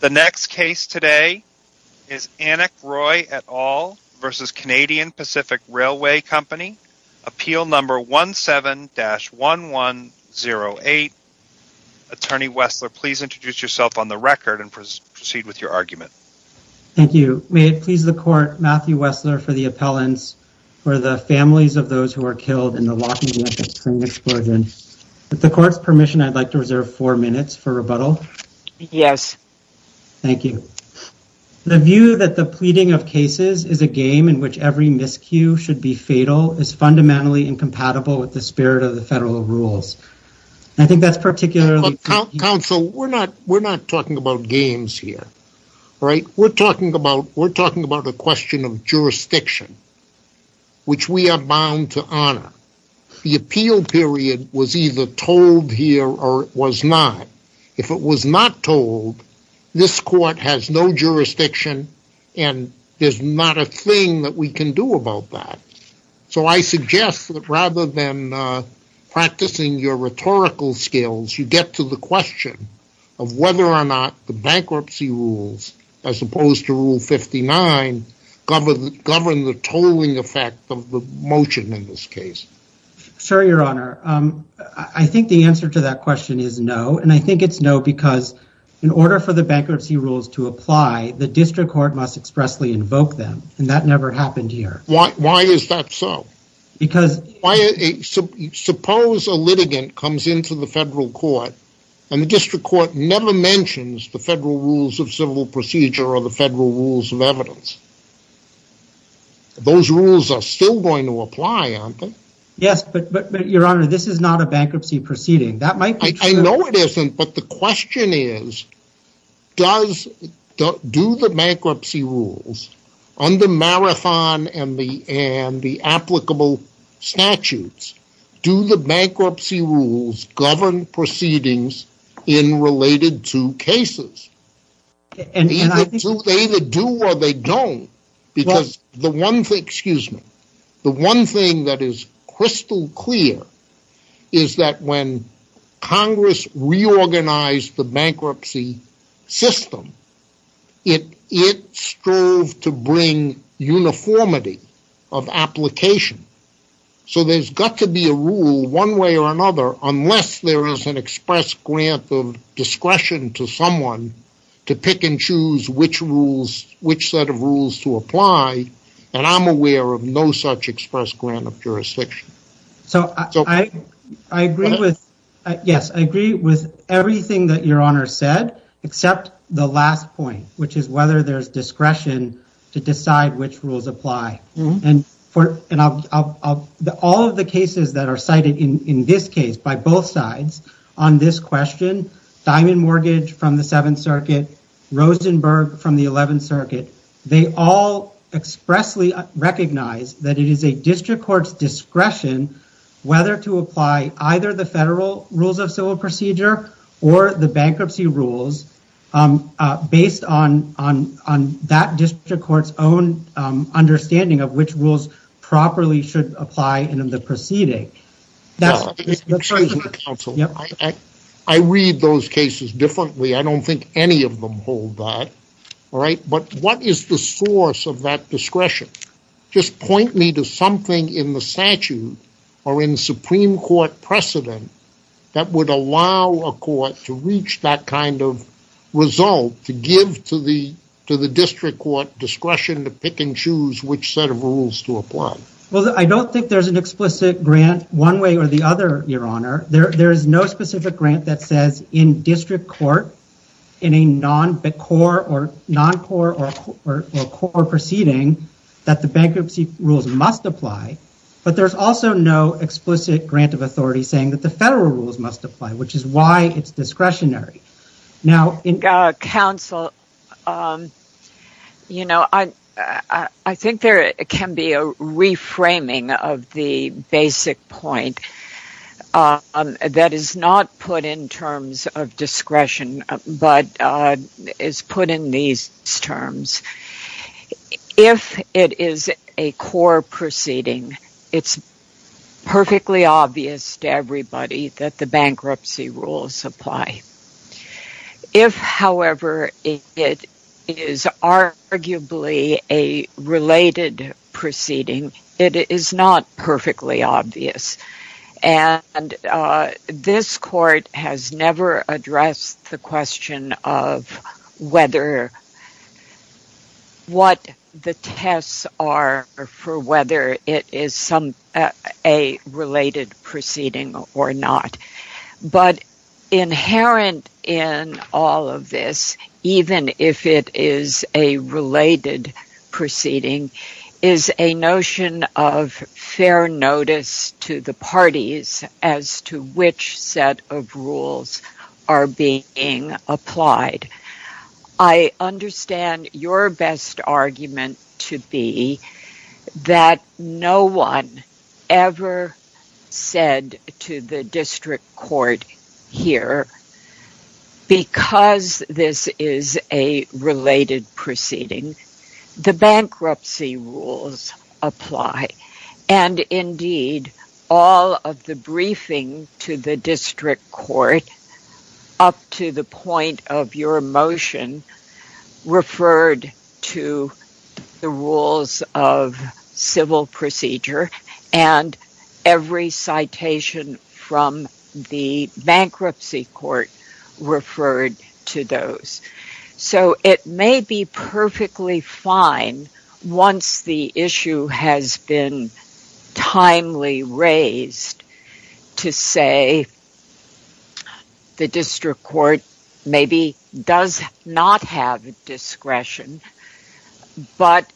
The next case today is Annick Roy et al. v. Canadian Pacific Railway Co. Appeal No. 17-1108. Attorney Wessler, please introduce yourself on the record and proceed with your argument. Thank you. May it please the Court, Matthew Wessler for the appellants for the families of those who were killed in the Lockheed Martin Spring Explosion. With the Court's permission, I'd like to reserve four minutes for rebuttal. Yes. Thank you. The view that the pleading of cases is a game in which every miscue should be fatal is fundamentally incompatible with the spirit of the federal rules. I think that's particularly... Counsel, we're not talking about games here, right? We're talking about a question of jurisdiction, which we are bound to honor. The appeal period was either told here or it was not. If it was not told, this Court has no jurisdiction and there's not a thing that we can do about that. So I suggest that rather than practicing your rhetorical skills, you get to the question of whether or not the bankruptcy rules, as opposed to Rule 59, govern the tolling effect of the motion in this case. Sir, Your Honor, I think the answer to that question is no, and I think it's no because in order for the bankruptcy rules to apply, the district court must expressly invoke them, and that never happened here. Why is that so? Because... Suppose a litigant comes into the federal court and the district court never mentions the federal rules of civil procedure or the federal rules of evidence. Those rules are still going to apply, aren't they? Yes, but Your Honor, this is not a bankruptcy proceeding. That might be true. I know it isn't, but the question is, do the bankruptcy rules under Marathon and the applicable statutes, do the bankruptcy rules govern proceedings in related to cases? They either do or they don't. Because the one thing that is crystal clear is that when Congress reorganized the bankruptcy system, it strove to bring uniformity of application. So there's got to be a rule one way or another unless there is an express grant of discretion to someone to pick and choose which set of rules to apply, and I'm aware of no such express grant of jurisdiction. So I agree with everything that Your Honor said, except the last point, which is whether there's discretion to decide which rules apply. All of the cases that are cited in this case, by both sides, on this question, Diamond Mortgage from the Seventh Circuit, Rosenberg from the Eleventh Circuit, they all expressly recognize that it is a district court's discretion whether to apply either the federal rules of civil procedure or the bankruptcy rules based on that district court's own understanding of which rules properly should apply in the proceeding. Excuse me, counsel. I read those cases differently. I don't think any of them hold that, all right? But what is the source of that discretion? Just point me to something in the statute or in Supreme Court precedent that would allow a court to reach that kind of result to give to the district court discretion to pick and choose which set of rules to apply. Well, I don't think there's an explicit grant one way or the other, Your Honor. There is no specific grant that says in district court in a non-core or core proceeding that the bankruptcy rules must apply, but there's also no explicit grant of authority saying that the federal rules must apply, which is why it's discretionary. Counsel, you know, I think there can be a reframing of the basic point that is not put in terms of discretion but is put in these terms. If it is a core proceeding, it's perfectly obvious to everybody that the bankruptcy rules apply. If, however, it is arguably a related proceeding, it is not perfectly obvious. And this court has never addressed the question of whether what the tests are for whether it is a related proceeding or not. But inherent in all of this, even if it is a related proceeding, is a notion of fair notice to the parties as to which set of rules are being applied. I understand your best argument to be that no one ever said to the district court here because this is a related proceeding, the bankruptcy rules apply. And indeed, all of the briefing to the district court up to the point of your motion referred to the rules of civil procedure and every citation from the bankruptcy court referred to those. So it may be perfectly fine once the issue has been timely raised to say the district court maybe does not have discretion but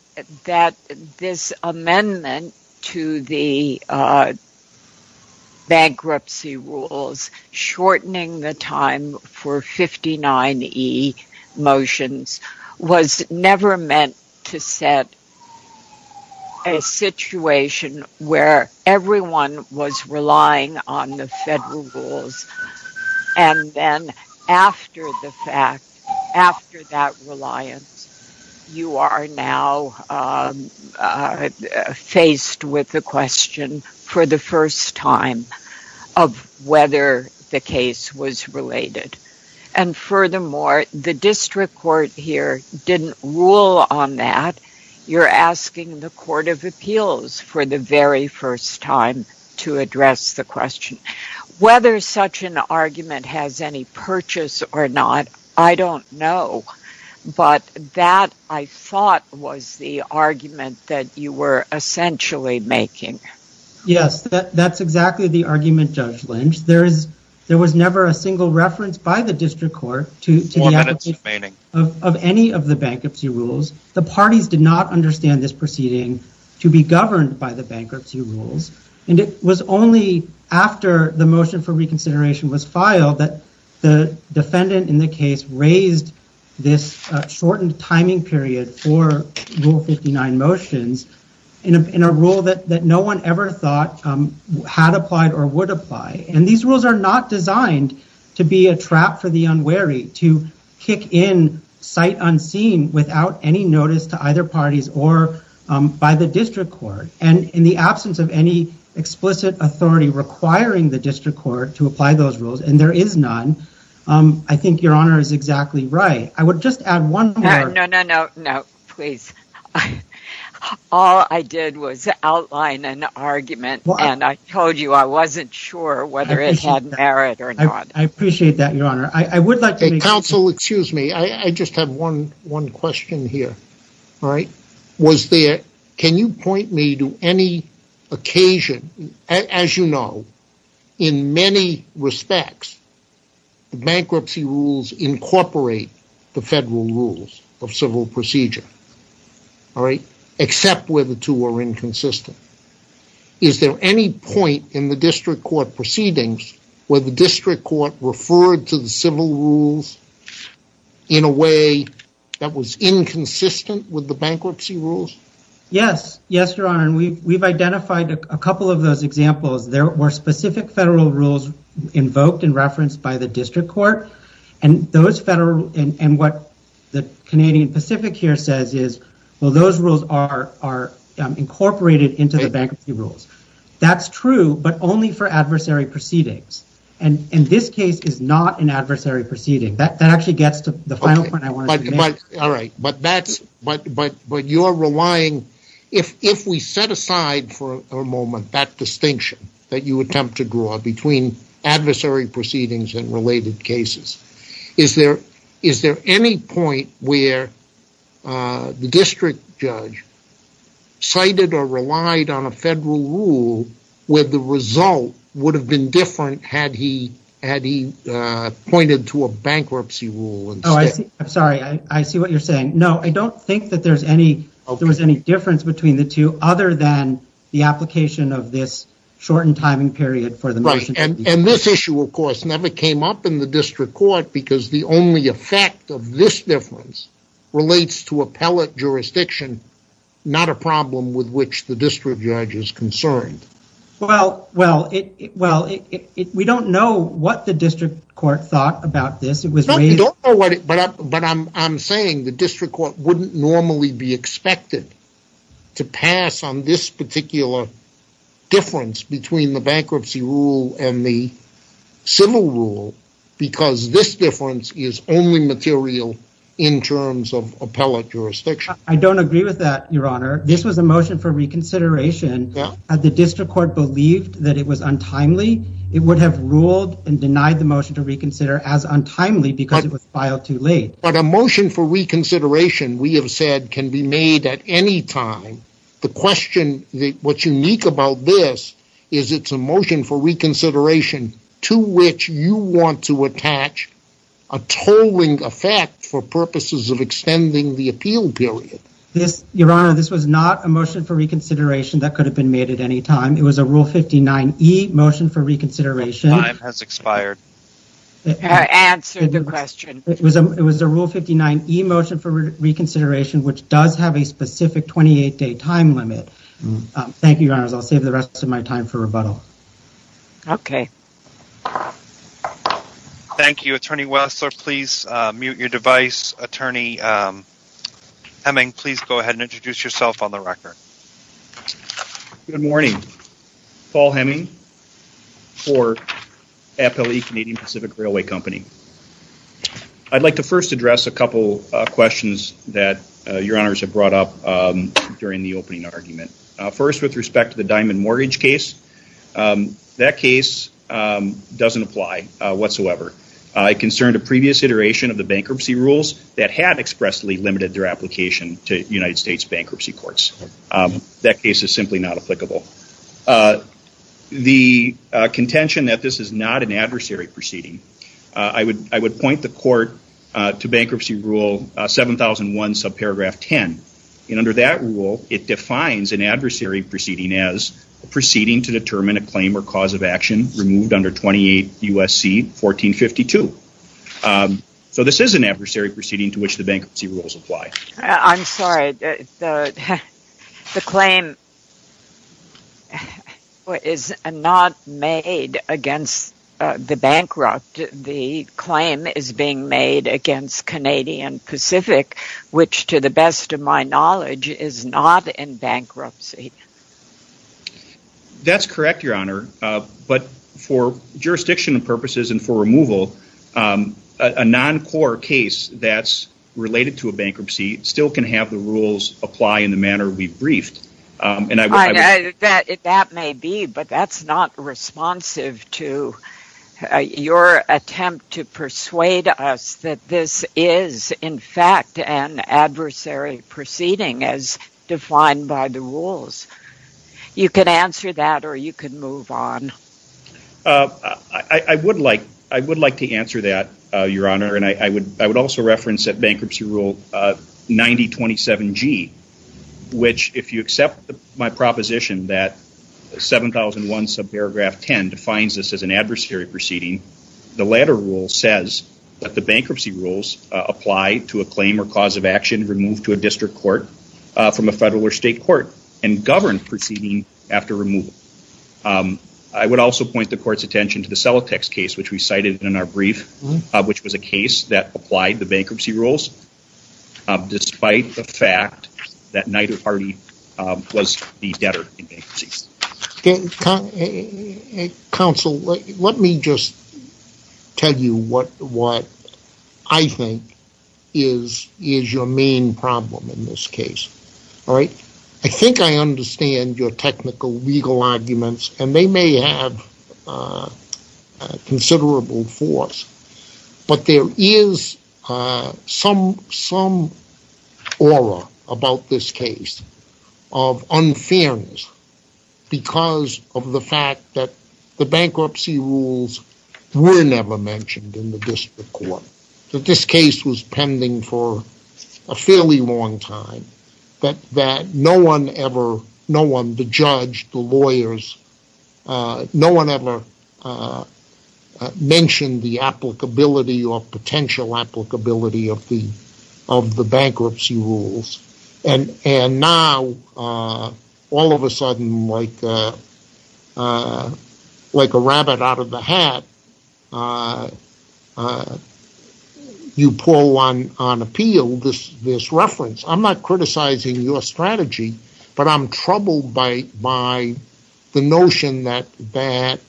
that this amendment to the bankruptcy rules shortening the time for 59E motions was never meant to set a situation where everyone was relying on the federal rules. And then after the fact, after that reliance, you are now faced with the question for the first time of whether the case was related. And furthermore, the district court here didn't rule on that. You're asking the court of appeals for the very first time to address the question. Whether such an argument has any purchase or not, I don't know. But that, I thought, was the argument that you were essentially making. Yes, that's exactly the argument, Judge Lynch. There was never a single reference by the district court of any of the bankruptcy rules. The parties did not understand this proceeding to be governed by the bankruptcy rules. And it was only after the motion for reconsideration was filed that the defendant in the case raised this shortened timing period for Rule 59 motions in a rule that no one ever thought had applied or would apply. And these rules are not designed to be a trap for the unwary, to kick in sight unseen without any notice to either parties or by the district court. And in the absence of any explicit authority requiring the district court to apply those rules, and there is none, I think Your Honor is exactly right. I would just add one more. No, no, no, no, please. All I did was outline an argument, and I told you I wasn't sure whether it had merit or not. I appreciate that, Your Honor. Counsel, excuse me. I just have one question here. Can you point me to any occasion, as you know, in many respects the bankruptcy rules incorporate the federal rules of civil procedure, except where the two are inconsistent. Is there any point in the district court proceedings where the district court referred to the civil rules in a way that was inconsistent with the bankruptcy rules? Yes, yes, Your Honor. And we've identified a couple of those examples. There were specific federal rules invoked and referenced by the district court, and what the Canadian Pacific here says is, well, those rules are incorporated into the bankruptcy rules. That's true, but only for adversary proceedings. And this case is not an adversary proceeding. That actually gets to the final point I wanted to make. All right. But you're relying, if we set aside for a moment that distinction that you attempt to draw between adversary proceedings and related cases, is there any point where the district judge cited or relied on a federal rule where the result would have been different had he pointed to a bankruptcy rule instead? I'm sorry. I see what you're saying. No, I don't think that there was any difference between the two other than the application of this shortened timing period for the motion. Right. And this issue, of course, never came up in the district court because the only effect of this difference relates to appellate jurisdiction, not a problem with which the district judge is concerned. Well, we don't know what the district court thought about this. But I'm saying the district court wouldn't normally be expected to pass on this particular difference between the bankruptcy rule and the civil rule because this difference is only material in terms of appellate jurisdiction. I don't agree with that, Your Honor. This was a motion for reconsideration. Had the district court believed that it was untimely, it would have ruled and denied the motion to reconsider as untimely because it was filed too late. But a motion for reconsideration, we have said, can be made at any time. The question, what's unique about this is it's a motion for reconsideration to which you want to attach a tolling effect for purposes of extending the appeal period. Your Honor, this was not a motion for reconsideration that could have been made at any time. It was a Rule 59E motion for reconsideration. Time has expired. Answer the question. It was a Rule 59E motion for reconsideration which does have a specific 28-day time limit. Thank you, Your Honors. I'll save the rest of my time for rebuttal. Okay. Thank you. Attorney Wessler, please mute your device. Attorney Hemming, please go ahead and introduce yourself on the record. Good morning. Paul Hemming for FLE Canadian Pacific Railway Company. I'd like to first address a couple of questions that Your Honors have brought up during the opening argument. First, with respect to the diamond mortgage case, that case doesn't apply whatsoever. It concerned a previous iteration of the bankruptcy rules that had expressly limited their application to United States bankruptcy courts. That case is simply not applicable. The contention that this is not an adversary proceeding, I would point the court to Bankruptcy Rule 7001, subparagraph 10. And under that rule, it defines an adversary proceeding as a proceeding to determine a claim or cause of action removed under 28 U.S.C. 1452. So this is an adversary proceeding to which the bankruptcy rules apply. I'm sorry. The claim is not made against the bankrupt. The claim is being made against Canadian Pacific, which to the best of my knowledge is not in bankruptcy. That's correct, Your Honor. But for jurisdiction purposes and for removal, a non-core case that's related to a bankruptcy still can have the rules apply in the manner we've briefed. That may be, but that's not responsive to your attempt to persuade us that this is in fact an adversary proceeding as defined by the rules. You can answer that or you can move on. I would like to answer that, Your Honor, and I would also reference that Bankruptcy Rule 9027G, which if you accept my proposition that 7001, subparagraph 10, defines this as an adversary proceeding, the latter rule says that the bankruptcy rules apply to a claim or cause of action removed to a district court from a federal or state court and govern proceeding after removal. I would also point the court's attention to the Celotex case, which we cited in our brief, which was a case that applied the bankruptcy rules, despite the fact that neither party was the debtor in bankruptcy. Counsel, let me just tell you what I think is your main problem in this case. All right? I think I understand your technical legal arguments, and they may have considerable force, but there is some aura about this case of unfairness because of the fact that the bankruptcy rules were never mentioned in the district court, that this case was pending for a fairly long time, that no one ever, no one, the judge, the lawyers, no one ever mentioned the applicability or potential applicability of the bankruptcy rules. And now, all of a sudden, like a rabbit out of the hat, you pull on appeal this reference. I'm not criticizing your strategy, but I'm troubled by the notion that there's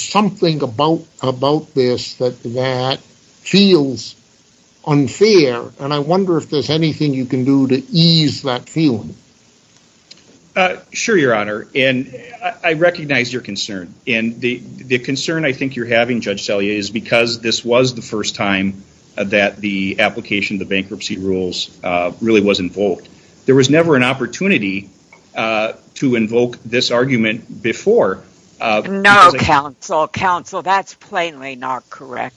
something about this that feels unfair, and I wonder if there's anything you can do to ease that feeling. Sure, Your Honor, and I recognize your concern, and the concern I think you're having, Judge Salier, is because this was the first time that the application of the bankruptcy rules really was invoked. There was never an opportunity to invoke this argument before. No, counsel, counsel, that's plainly not correct.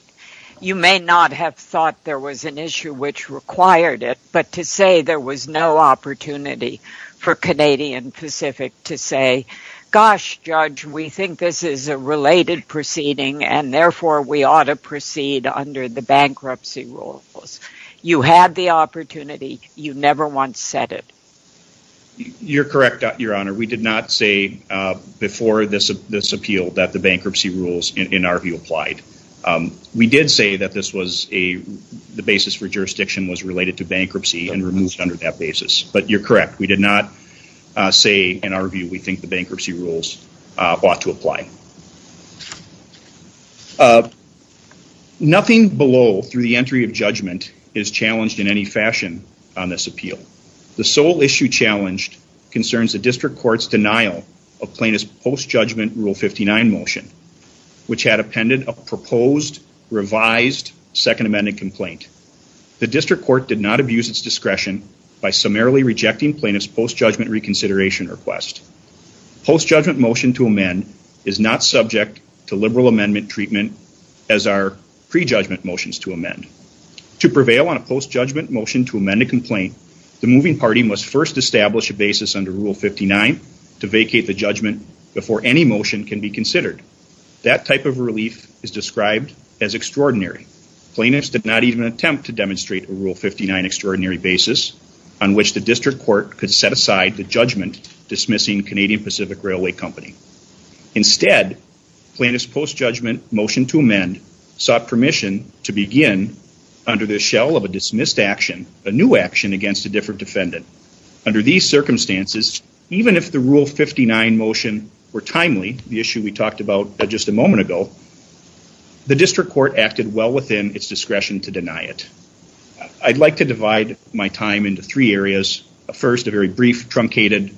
You may not have thought there was an issue which required it, but to say there was no opportunity for Canadian Pacific to say, gosh, Judge, we think this is a related proceeding, and therefore we ought to proceed under the bankruptcy rules. You had the opportunity. You never once said it. You're correct, Your Honor. We did not say before this appeal that the bankruptcy rules, in our view, applied. We did say that this was a, the basis for jurisdiction was related to bankruptcy and removed under that basis, but you're correct. We did not say, in our view, we think the bankruptcy rules ought to apply. Nothing below through the entry of judgment is challenged in any fashion on this appeal. The sole issue challenged concerns the district court's denial of plaintiff's post-judgment Rule 59 motion, which had appended a proposed revised Second Amendment complaint. The district court did not abuse its discretion by summarily rejecting plaintiff's post-judgment reconsideration request. Post-judgment motion to amend is not subject to liberal amendment treatment as are pre-judgment motions to amend. To prevail on a post-judgment motion to amend a complaint, the moving party must first establish a basis under Rule 59 to vacate the judgment before any motion can be considered. That type of relief is described as extraordinary. Plaintiffs did not even attempt to demonstrate a Rule 59 extraordinary basis on which the district court could set aside the judgment dismissing Canadian Pacific Railway Company. Instead, plaintiff's post-judgment motion to amend sought permission to begin under the shell of a dismissed action, a new action against a different defendant. Under these circumstances, even if the Rule 59 motion were timely, the issue we talked about just a moment ago, the district court acted well within its discretion to deny it. I'd like to divide my time into three areas. First, a very brief, truncated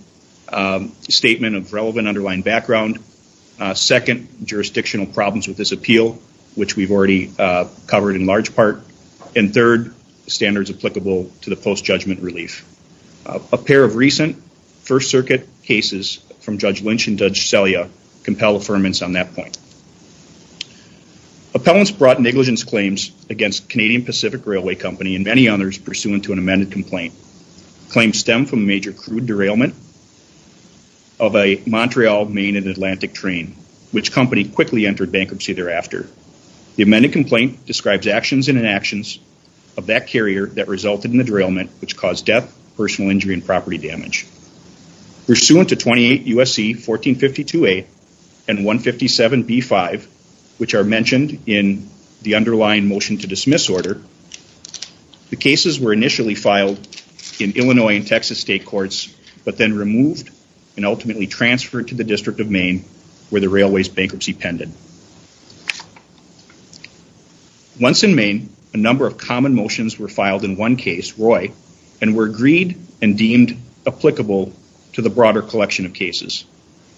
statement of relevant underlying background. Second, jurisdictional problems with this appeal, which we've already covered in large part. And third, standards applicable to the post-judgment relief. A pair of recent First Circuit cases from Judge Lynch and Judge Selya compel affirmance on that point. Appellants brought negligence claims against Canadian Pacific Railway Company and many others pursuant to an amended complaint. Claims stem from a major crude derailment of a Montreal, Maine, and Atlantic train, which company quickly entered bankruptcy thereafter. The amended complaint describes actions and inactions of that carrier that resulted in the derailment, which caused death, personal injury, and property damage. Pursuant to 28 U.S.C. 1452A and 157B5, which are mentioned in the underlying motion to dismiss order, the cases were initially filed in Illinois and Texas state courts, but then removed and ultimately transferred to the District of Maine where the railway's bankruptcy pended. Once in Maine, a number of common motions were filed in one case, Roy, and were agreed and deemed applicable to the broader collection of cases.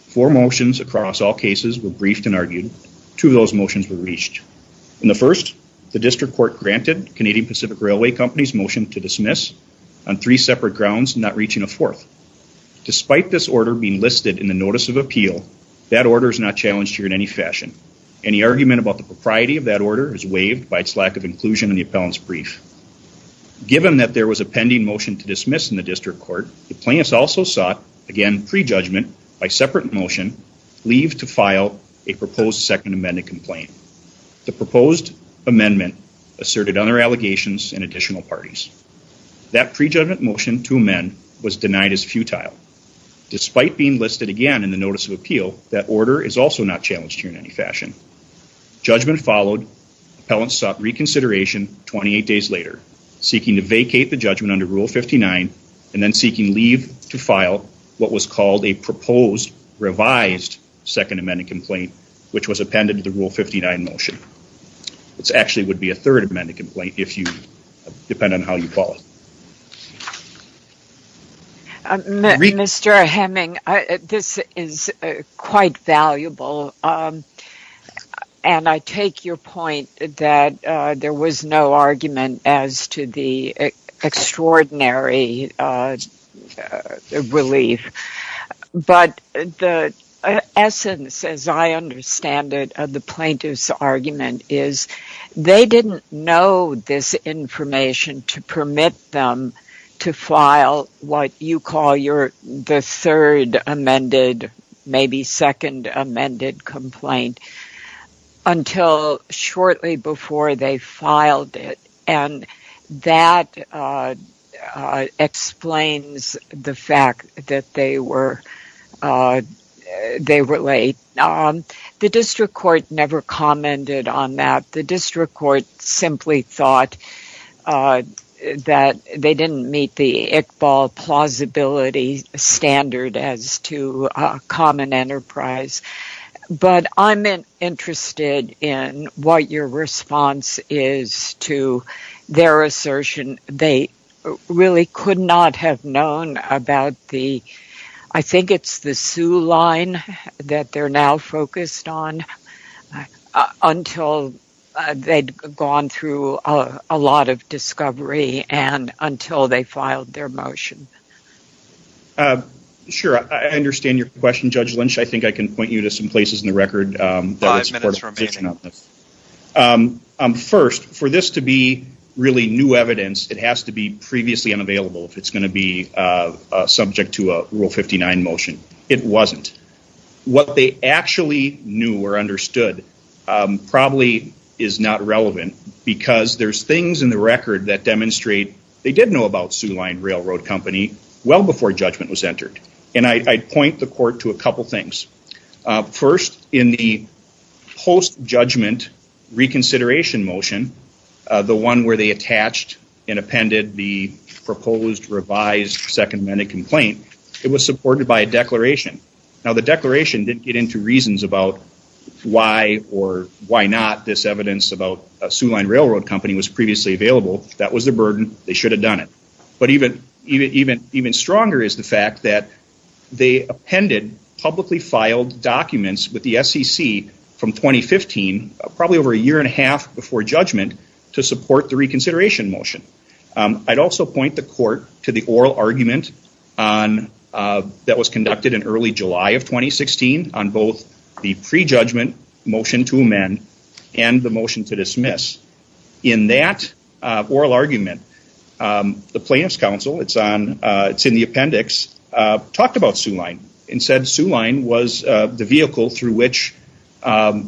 Four motions across all cases were briefed and argued. Two of those motions were reached. In the first, the district court granted Canadian Pacific Railway Company's motion to dismiss on three separate grounds, not reaching a fourth. Despite this order being listed in the notice of appeal, that order is not challenged here in any fashion. Any argument about the propriety of that order is waived by its lack of inclusion in the appellant's brief. Given that there was a pending motion to dismiss in the district court, the plaintiffs also sought, again, prejudgment by separate motion, leave to file a proposed second amended complaint. The proposed amendment asserted other allegations and additional parties. That prejudgment motion to amend was denied as futile. Despite being listed again in the notice of appeal, that order is also not challenged here in any fashion. Judgment followed. Appellants sought reconsideration 28 days later, seeking to vacate the judgment under Rule 59, and then seeking leave to file what was called a proposed revised second amended complaint, which was appended to the Rule 59 motion. It actually would be a third amended complaint, depending on how you call it. Mr. Hemming, this is quite valuable, and I take your point that there was no argument as to the extraordinary relief. But the essence, as I understand it, of the plaintiff's argument is they didn't know this information to permit them to file what you call the third amended, maybe second amended complaint until shortly before they filed it. That explains the fact that they were late. The district court never commented on that. The district court simply thought that they didn't meet the Iqbal plausibility standard as to common enterprise. But I'm interested in what your response is to their assertion. They really could not have known about the, I think it's the Sue line, that they're now focused on until they'd gone through a lot of discovery and until they filed their motion. Sure, I understand your question, Judge Lynch. I think I can point you to some places in the record that would support a position on this. First, for this to be really new evidence, it has to be previously unavailable if it's going to be subject to a Rule 59 motion. It wasn't. What they actually knew or understood probably is not relevant because there's things in the record that demonstrate they did know about Sue line railroad company well before judgment was entered. And I'd point the court to a couple things. First, in the post-judgment reconsideration motion, the one where they attached and appended the proposed revised second amended complaint, it was supported by a declaration. Now, the declaration didn't get into reasons about why or why not this evidence about Sue line railroad company was previously available. That was the burden. They should have done it. But even stronger is the fact that they appended publicly filed documents with the SEC from 2015, probably over a year and a half before judgment, to support the reconsideration motion. I'd also point the court to the oral argument that was conducted in early July of 2016 on both the pre-judgment motion to amend and the motion to dismiss. In that oral argument, the plaintiff's counsel, it's in the appendix, talked about Sue line. And said Sue line was the vehicle through which that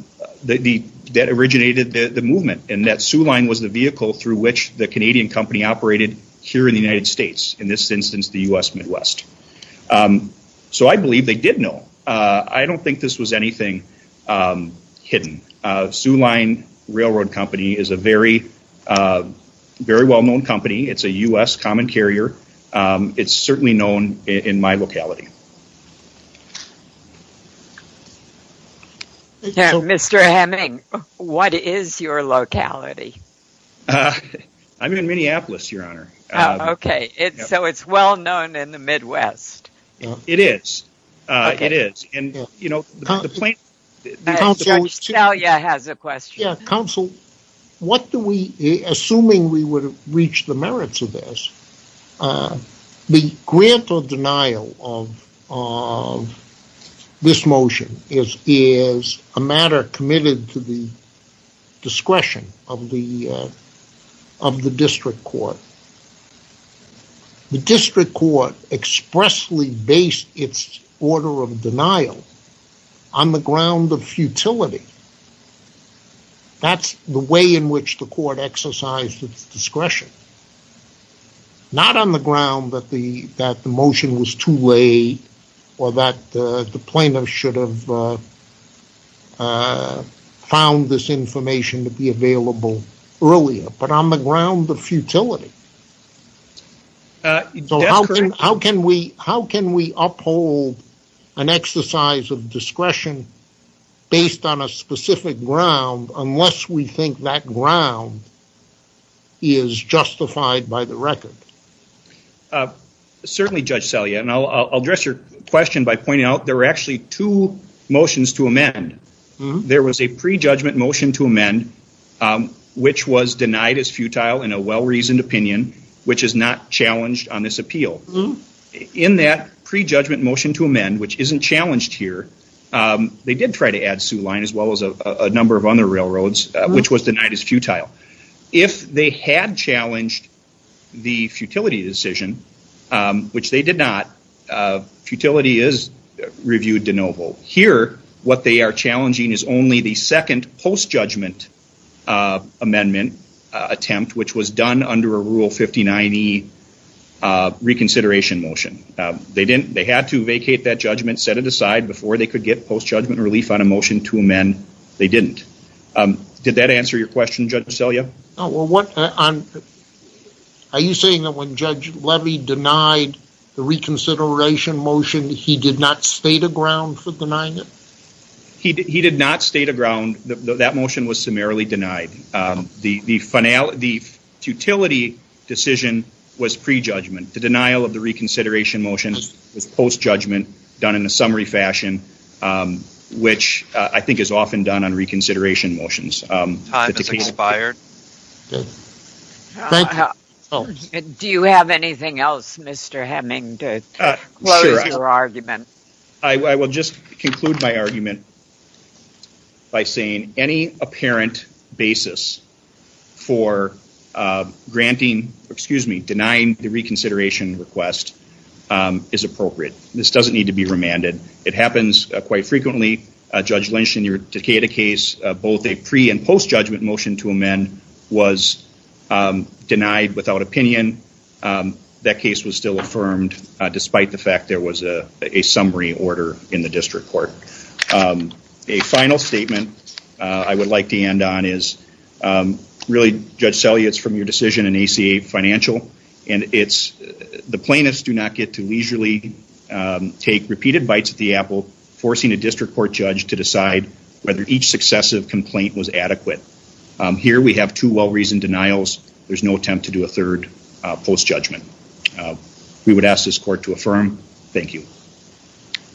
originated the movement. And that Sue line was the vehicle through which the Canadian company operated here in the United States. In this instance, the U.S. Midwest. So I believe they did know. I don't think this was anything hidden. Sue line railroad company is a very well-known company. It's a U.S. common carrier. It's certainly known in my locality. Mr. Hemming, what is your locality? I'm in Minneapolis, your honor. Okay. So it's well-known in the Midwest. It is. It is. Counsel, what do we, assuming we would have reached the merits of this, the grant or denial of this motion is a matter committed to the discretion of the district court. The district court expressly based its order of denial on the ground of futility. That's the way in which the court exercised its discretion. Not on the ground that the motion was too late or that the plaintiff should have found this information to be available earlier. But on the ground of futility. So how can we uphold an exercise of discretion based on a specific ground unless we think that ground is justified by the record? Certainly, Judge Selye. And I'll address your question by pointing out there were actually two motions to amend. There was a prejudgment motion to amend, which was denied as futile in a well-reasoned opinion, which is not challenged on this appeal. In that prejudgment motion to amend, which isn't challenged here, they did try to add Sioux Line as well as a number of other railroads, which was denied as futile. If they had challenged the futility decision, which they did not, futility is reviewed de novo. Here, what they are challenging is only the second post-judgment amendment attempt, which was done under a Rule 59E reconsideration motion. They had to vacate that judgment, set it aside before they could get post-judgment relief on a motion to amend. They didn't. Did that answer your question, Judge Selye? Are you saying that when Judge Levy denied the reconsideration motion, he did not state a ground for denying it? He did not state a ground. That motion was summarily denied. The futility decision was prejudgment. The denial of the reconsideration motion was post-judgment, done in a summary fashion, which I think is often done on reconsideration motions. Time has expired. Do you have anything else, Mr. Hemming, to close your argument? I will just conclude my argument by saying any apparent basis for denying the reconsideration request is appropriate. This doesn't need to be remanded. It happens quite frequently. Judge Lynch, in your Decatur case, both a pre- and post-judgment motion to amend was denied without opinion. That case was still affirmed, despite the fact there was a summary order in the district court. A final statement I would like to end on is really, Judge Selye, it's from your decision in ACA Financial, and it's the plaintiffs do not get to leisurely take repeated bites at the apple, forcing a district court judge to decide whether each successive complaint was adequate. Here we have two well-reasoned denials. There's no attempt to do a third post-judgment. We would ask this court to affirm. Thank you.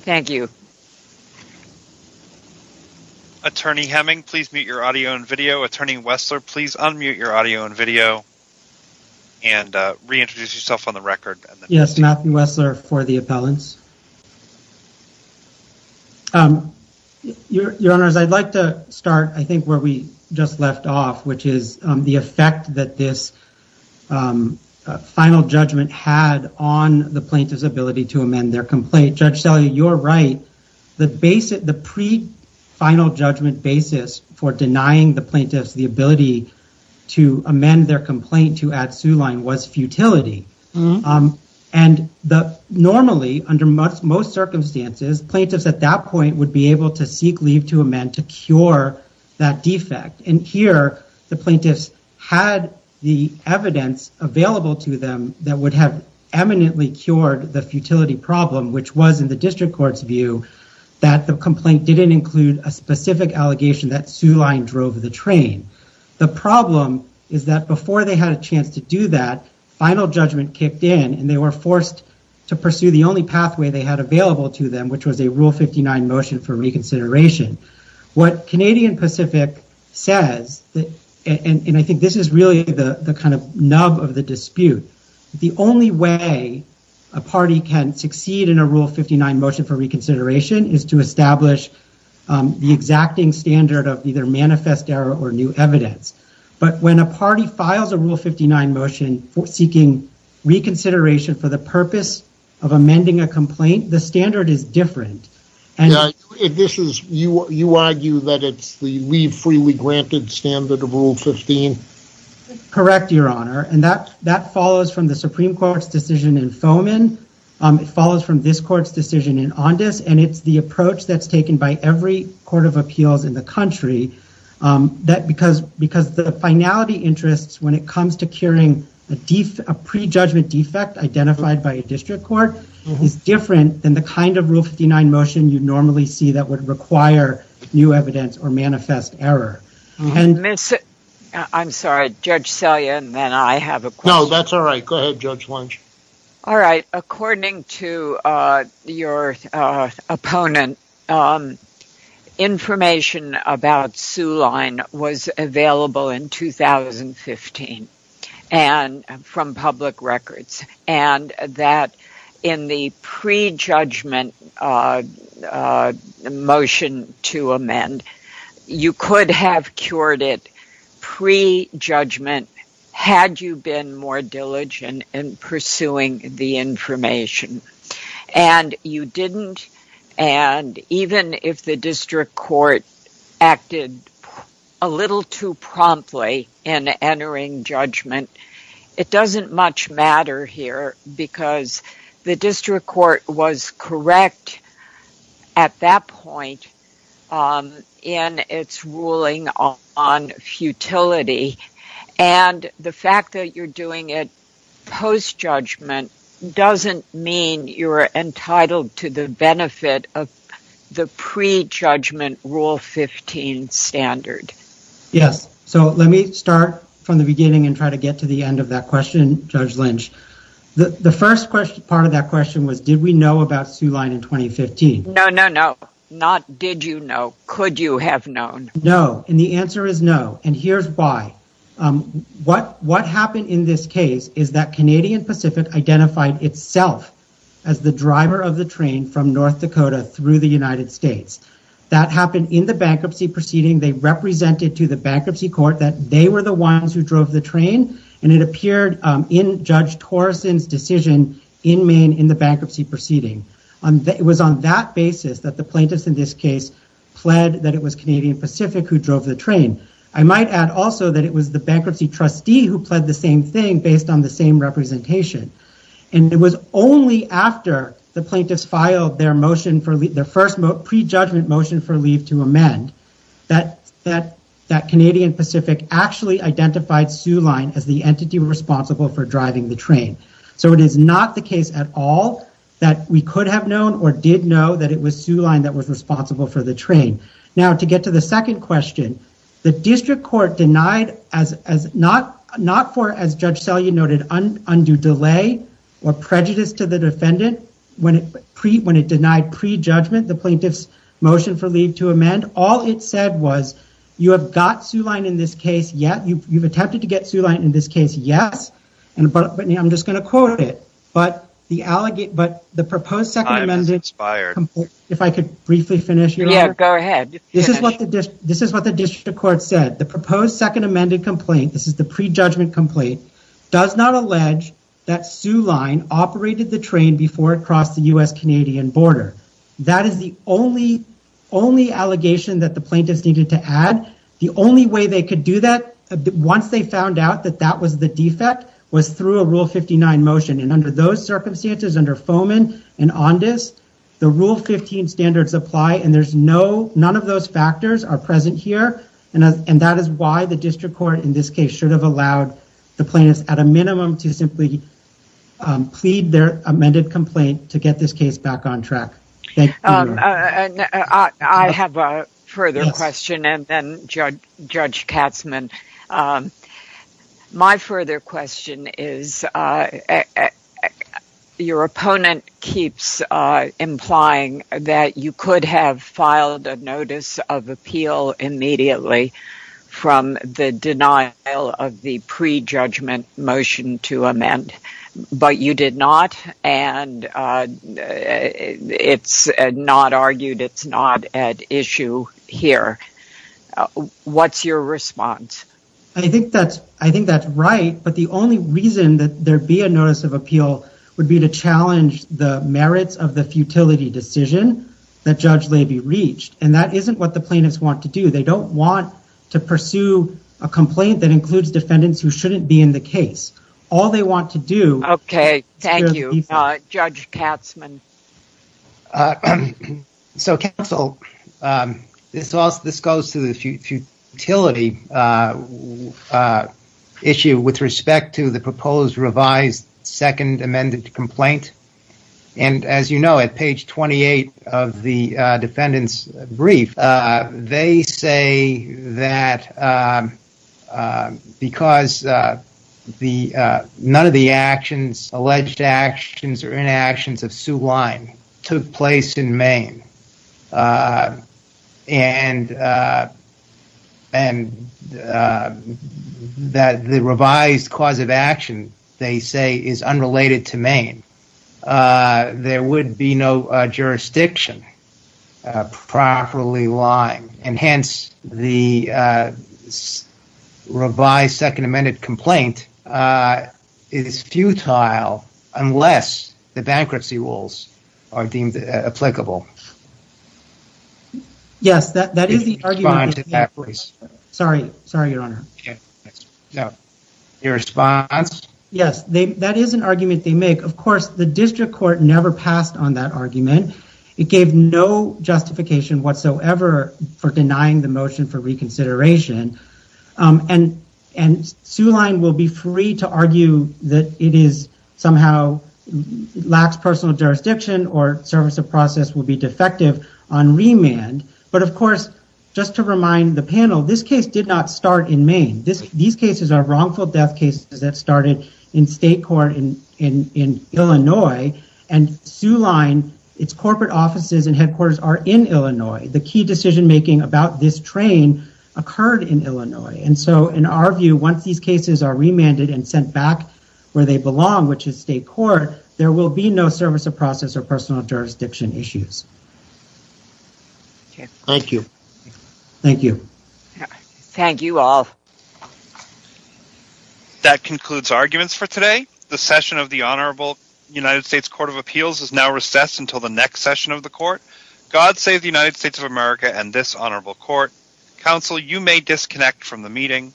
Thank you. Attorney Hemming, please mute your audio and video. Attorney Wessler, please unmute your audio and video and reintroduce yourself on the record. Yes, Matthew Wessler for the appellants. Your Honors, I'd like to start, I think, where we just left off, which is the effect that this final judgment had on the plaintiff's ability to amend their complaint. Judge Selye, you're right. The pre-final judgment basis for denying the plaintiffs the ability to amend their complaint to add sueline was futility. Normally, under most circumstances, plaintiffs at that point would be able to seek leave to amend to cure that defect. Here, the plaintiffs had the evidence available to them that would have eminently cured the futility problem, which was, in the district court's view, that the complaint didn't include a specific allegation that sueline drove the train. The problem is that before they had a chance to do that, final judgment kicked in, and they were forced to pursue the only pathway they had available to them, which was a Rule 59 motion for reconsideration. What Canadian Pacific says, and I think this is really the kind of nub of the dispute, the only way a party can succeed in a Rule 59 motion for reconsideration is to establish the exacting standard of either manifest error or new evidence. But when a party files a Rule 59 motion seeking reconsideration for the purpose of amending a complaint, the standard is different. You argue that it's the leave-freely-granted standard of Rule 15? Correct, Your Honor. That follows from the Supreme Court's decision in Fomin. It follows from this court's decision in Ondes. And it's the approach that's taken by every court of appeals in the country, because the finality interests, when it comes to curing a prejudgment defect identified by a district court, is different than the kind of Rule 59 motion you'd normally see that would require new evidence or manifest error. I'm sorry. Judge Selye and then I have a question. No, that's all right. Go ahead, Judge Lynch. All right. According to your opponent, information about Soo Line was available in 2015 from public records, and that in the prejudgment motion to amend, you could have cured it prejudgment had you been more diligent in pursuing it. And you didn't, and even if the district court acted a little too promptly in entering judgment, it doesn't much matter here, because the district court was correct at that point in its ruling on futility. And the fact that you're doing it post-judgment doesn't mean you're entitled to the benefit of the prejudgment Rule 15 standard. Yes. So let me start from the beginning and try to get to the end of that question, Judge Lynch. The first part of that question was, did we know about Soo Line in 2015? No, no, no. Not did you know. Could you have known? No. And the answer is no. And here's why. What happened in this case is that Canadian Pacific identified itself as the driver of the train from North Dakota through the United States. That happened in the bankruptcy proceeding. They represented to the bankruptcy court that they were the ones who drove the train, and it appeared in Judge Torrison's decision in Maine in the bankruptcy proceeding. It was on that basis that the plaintiffs in this case pled that it was Canadian Pacific who drove the train. I might add also that it was the bankruptcy trustee who pled the same thing based on the same representation. And it was only after the plaintiffs filed their motion for their first pre-judgment motion for leave to amend that that Canadian Pacific actually identified Soo Line as the entity responsible for driving the train. So it is not the case at all that we could have known or did know that it was Soo Line that was responsible for the train. Now, to get to the second question, the district court denied, not for, as Judge Selye noted, undue delay or prejudice to the defendant when it denied pre-judgment the plaintiff's motion for leave to amend. All it said was, you have got Soo Line in this case, yes. You've attempted to get Soo Line in this case, yes. But I'm just going to quote it. Time has expired. If I could briefly finish. Yeah, go ahead. This is what the district court said. The proposed second amended complaint, this is the pre-judgment complaint, does not allege that Soo Line operated the train before it crossed the U.S.-Canadian border. That is the only, only allegation that the plaintiffs needed to add. The only way they could do that, once they found out that that was the defect, was through a Rule 59 motion. And under those circumstances, under Foman and Ondes, the Rule 15 standards apply and there's no, none of those factors are present here. And that is why the district court in this case should have allowed the plaintiffs at a minimum to simply plead their amended complaint to get this case back on track. I have a further question and then Judge Katzmann. My further question is, your opponent keeps implying that you could have filed a notice of appeal immediately from the denial of the pre-judgment motion to amend. But you did not and it's not argued, it's not at issue here. What's your response? I think that's, I think that's right. But the only reason that there be a notice of appeal would be to challenge the merits of the futility decision that Judge Leiby reached. And that isn't what the plaintiffs want to do. They don't want to pursue a complaint that includes defendants who shouldn't be in the case. All they want to do... Okay, thank you. Judge Katzmann. So counsel, this goes to the futility issue with respect to the proposed revised second amended complaint. And as you know, at page 28 of the defendant's brief, they say that because none of the actions, alleged actions or inactions of Sue Lyne took place in Maine. And that the revised cause of action, they say, is unrelated to Maine. There would be no jurisdiction properly lying and hence the revised second amended complaint is futile unless the bankruptcy rules are deemed applicable. Yes, that is the argument. Sorry, sorry, Your Honor. Your response? Yes, that is an argument they make. Of course, the district court never passed on that argument. It gave no justification whatsoever for denying the motion for reconsideration. And Sue Lyne will be free to argue that it is somehow lacks personal jurisdiction or service of process will be defective on remand. But of course, just to remind the panel, this case did not start in Maine. These cases are wrongful death cases that started in state court in Illinois. And Sue Lyne, its corporate offices and headquarters are in Illinois. The key decision making about this train occurred in Illinois. And so in our view, once these cases are remanded and sent back where they belong, which is state court, there will be no service of process or personal jurisdiction issues. Thank you. Thank you. Thank you all. That concludes arguments for today. The session of the Honorable United States Court of Appeals is now recessed until the next session of the court. God save the United States of America and this honorable court. Counsel, you may disconnect from the meeting.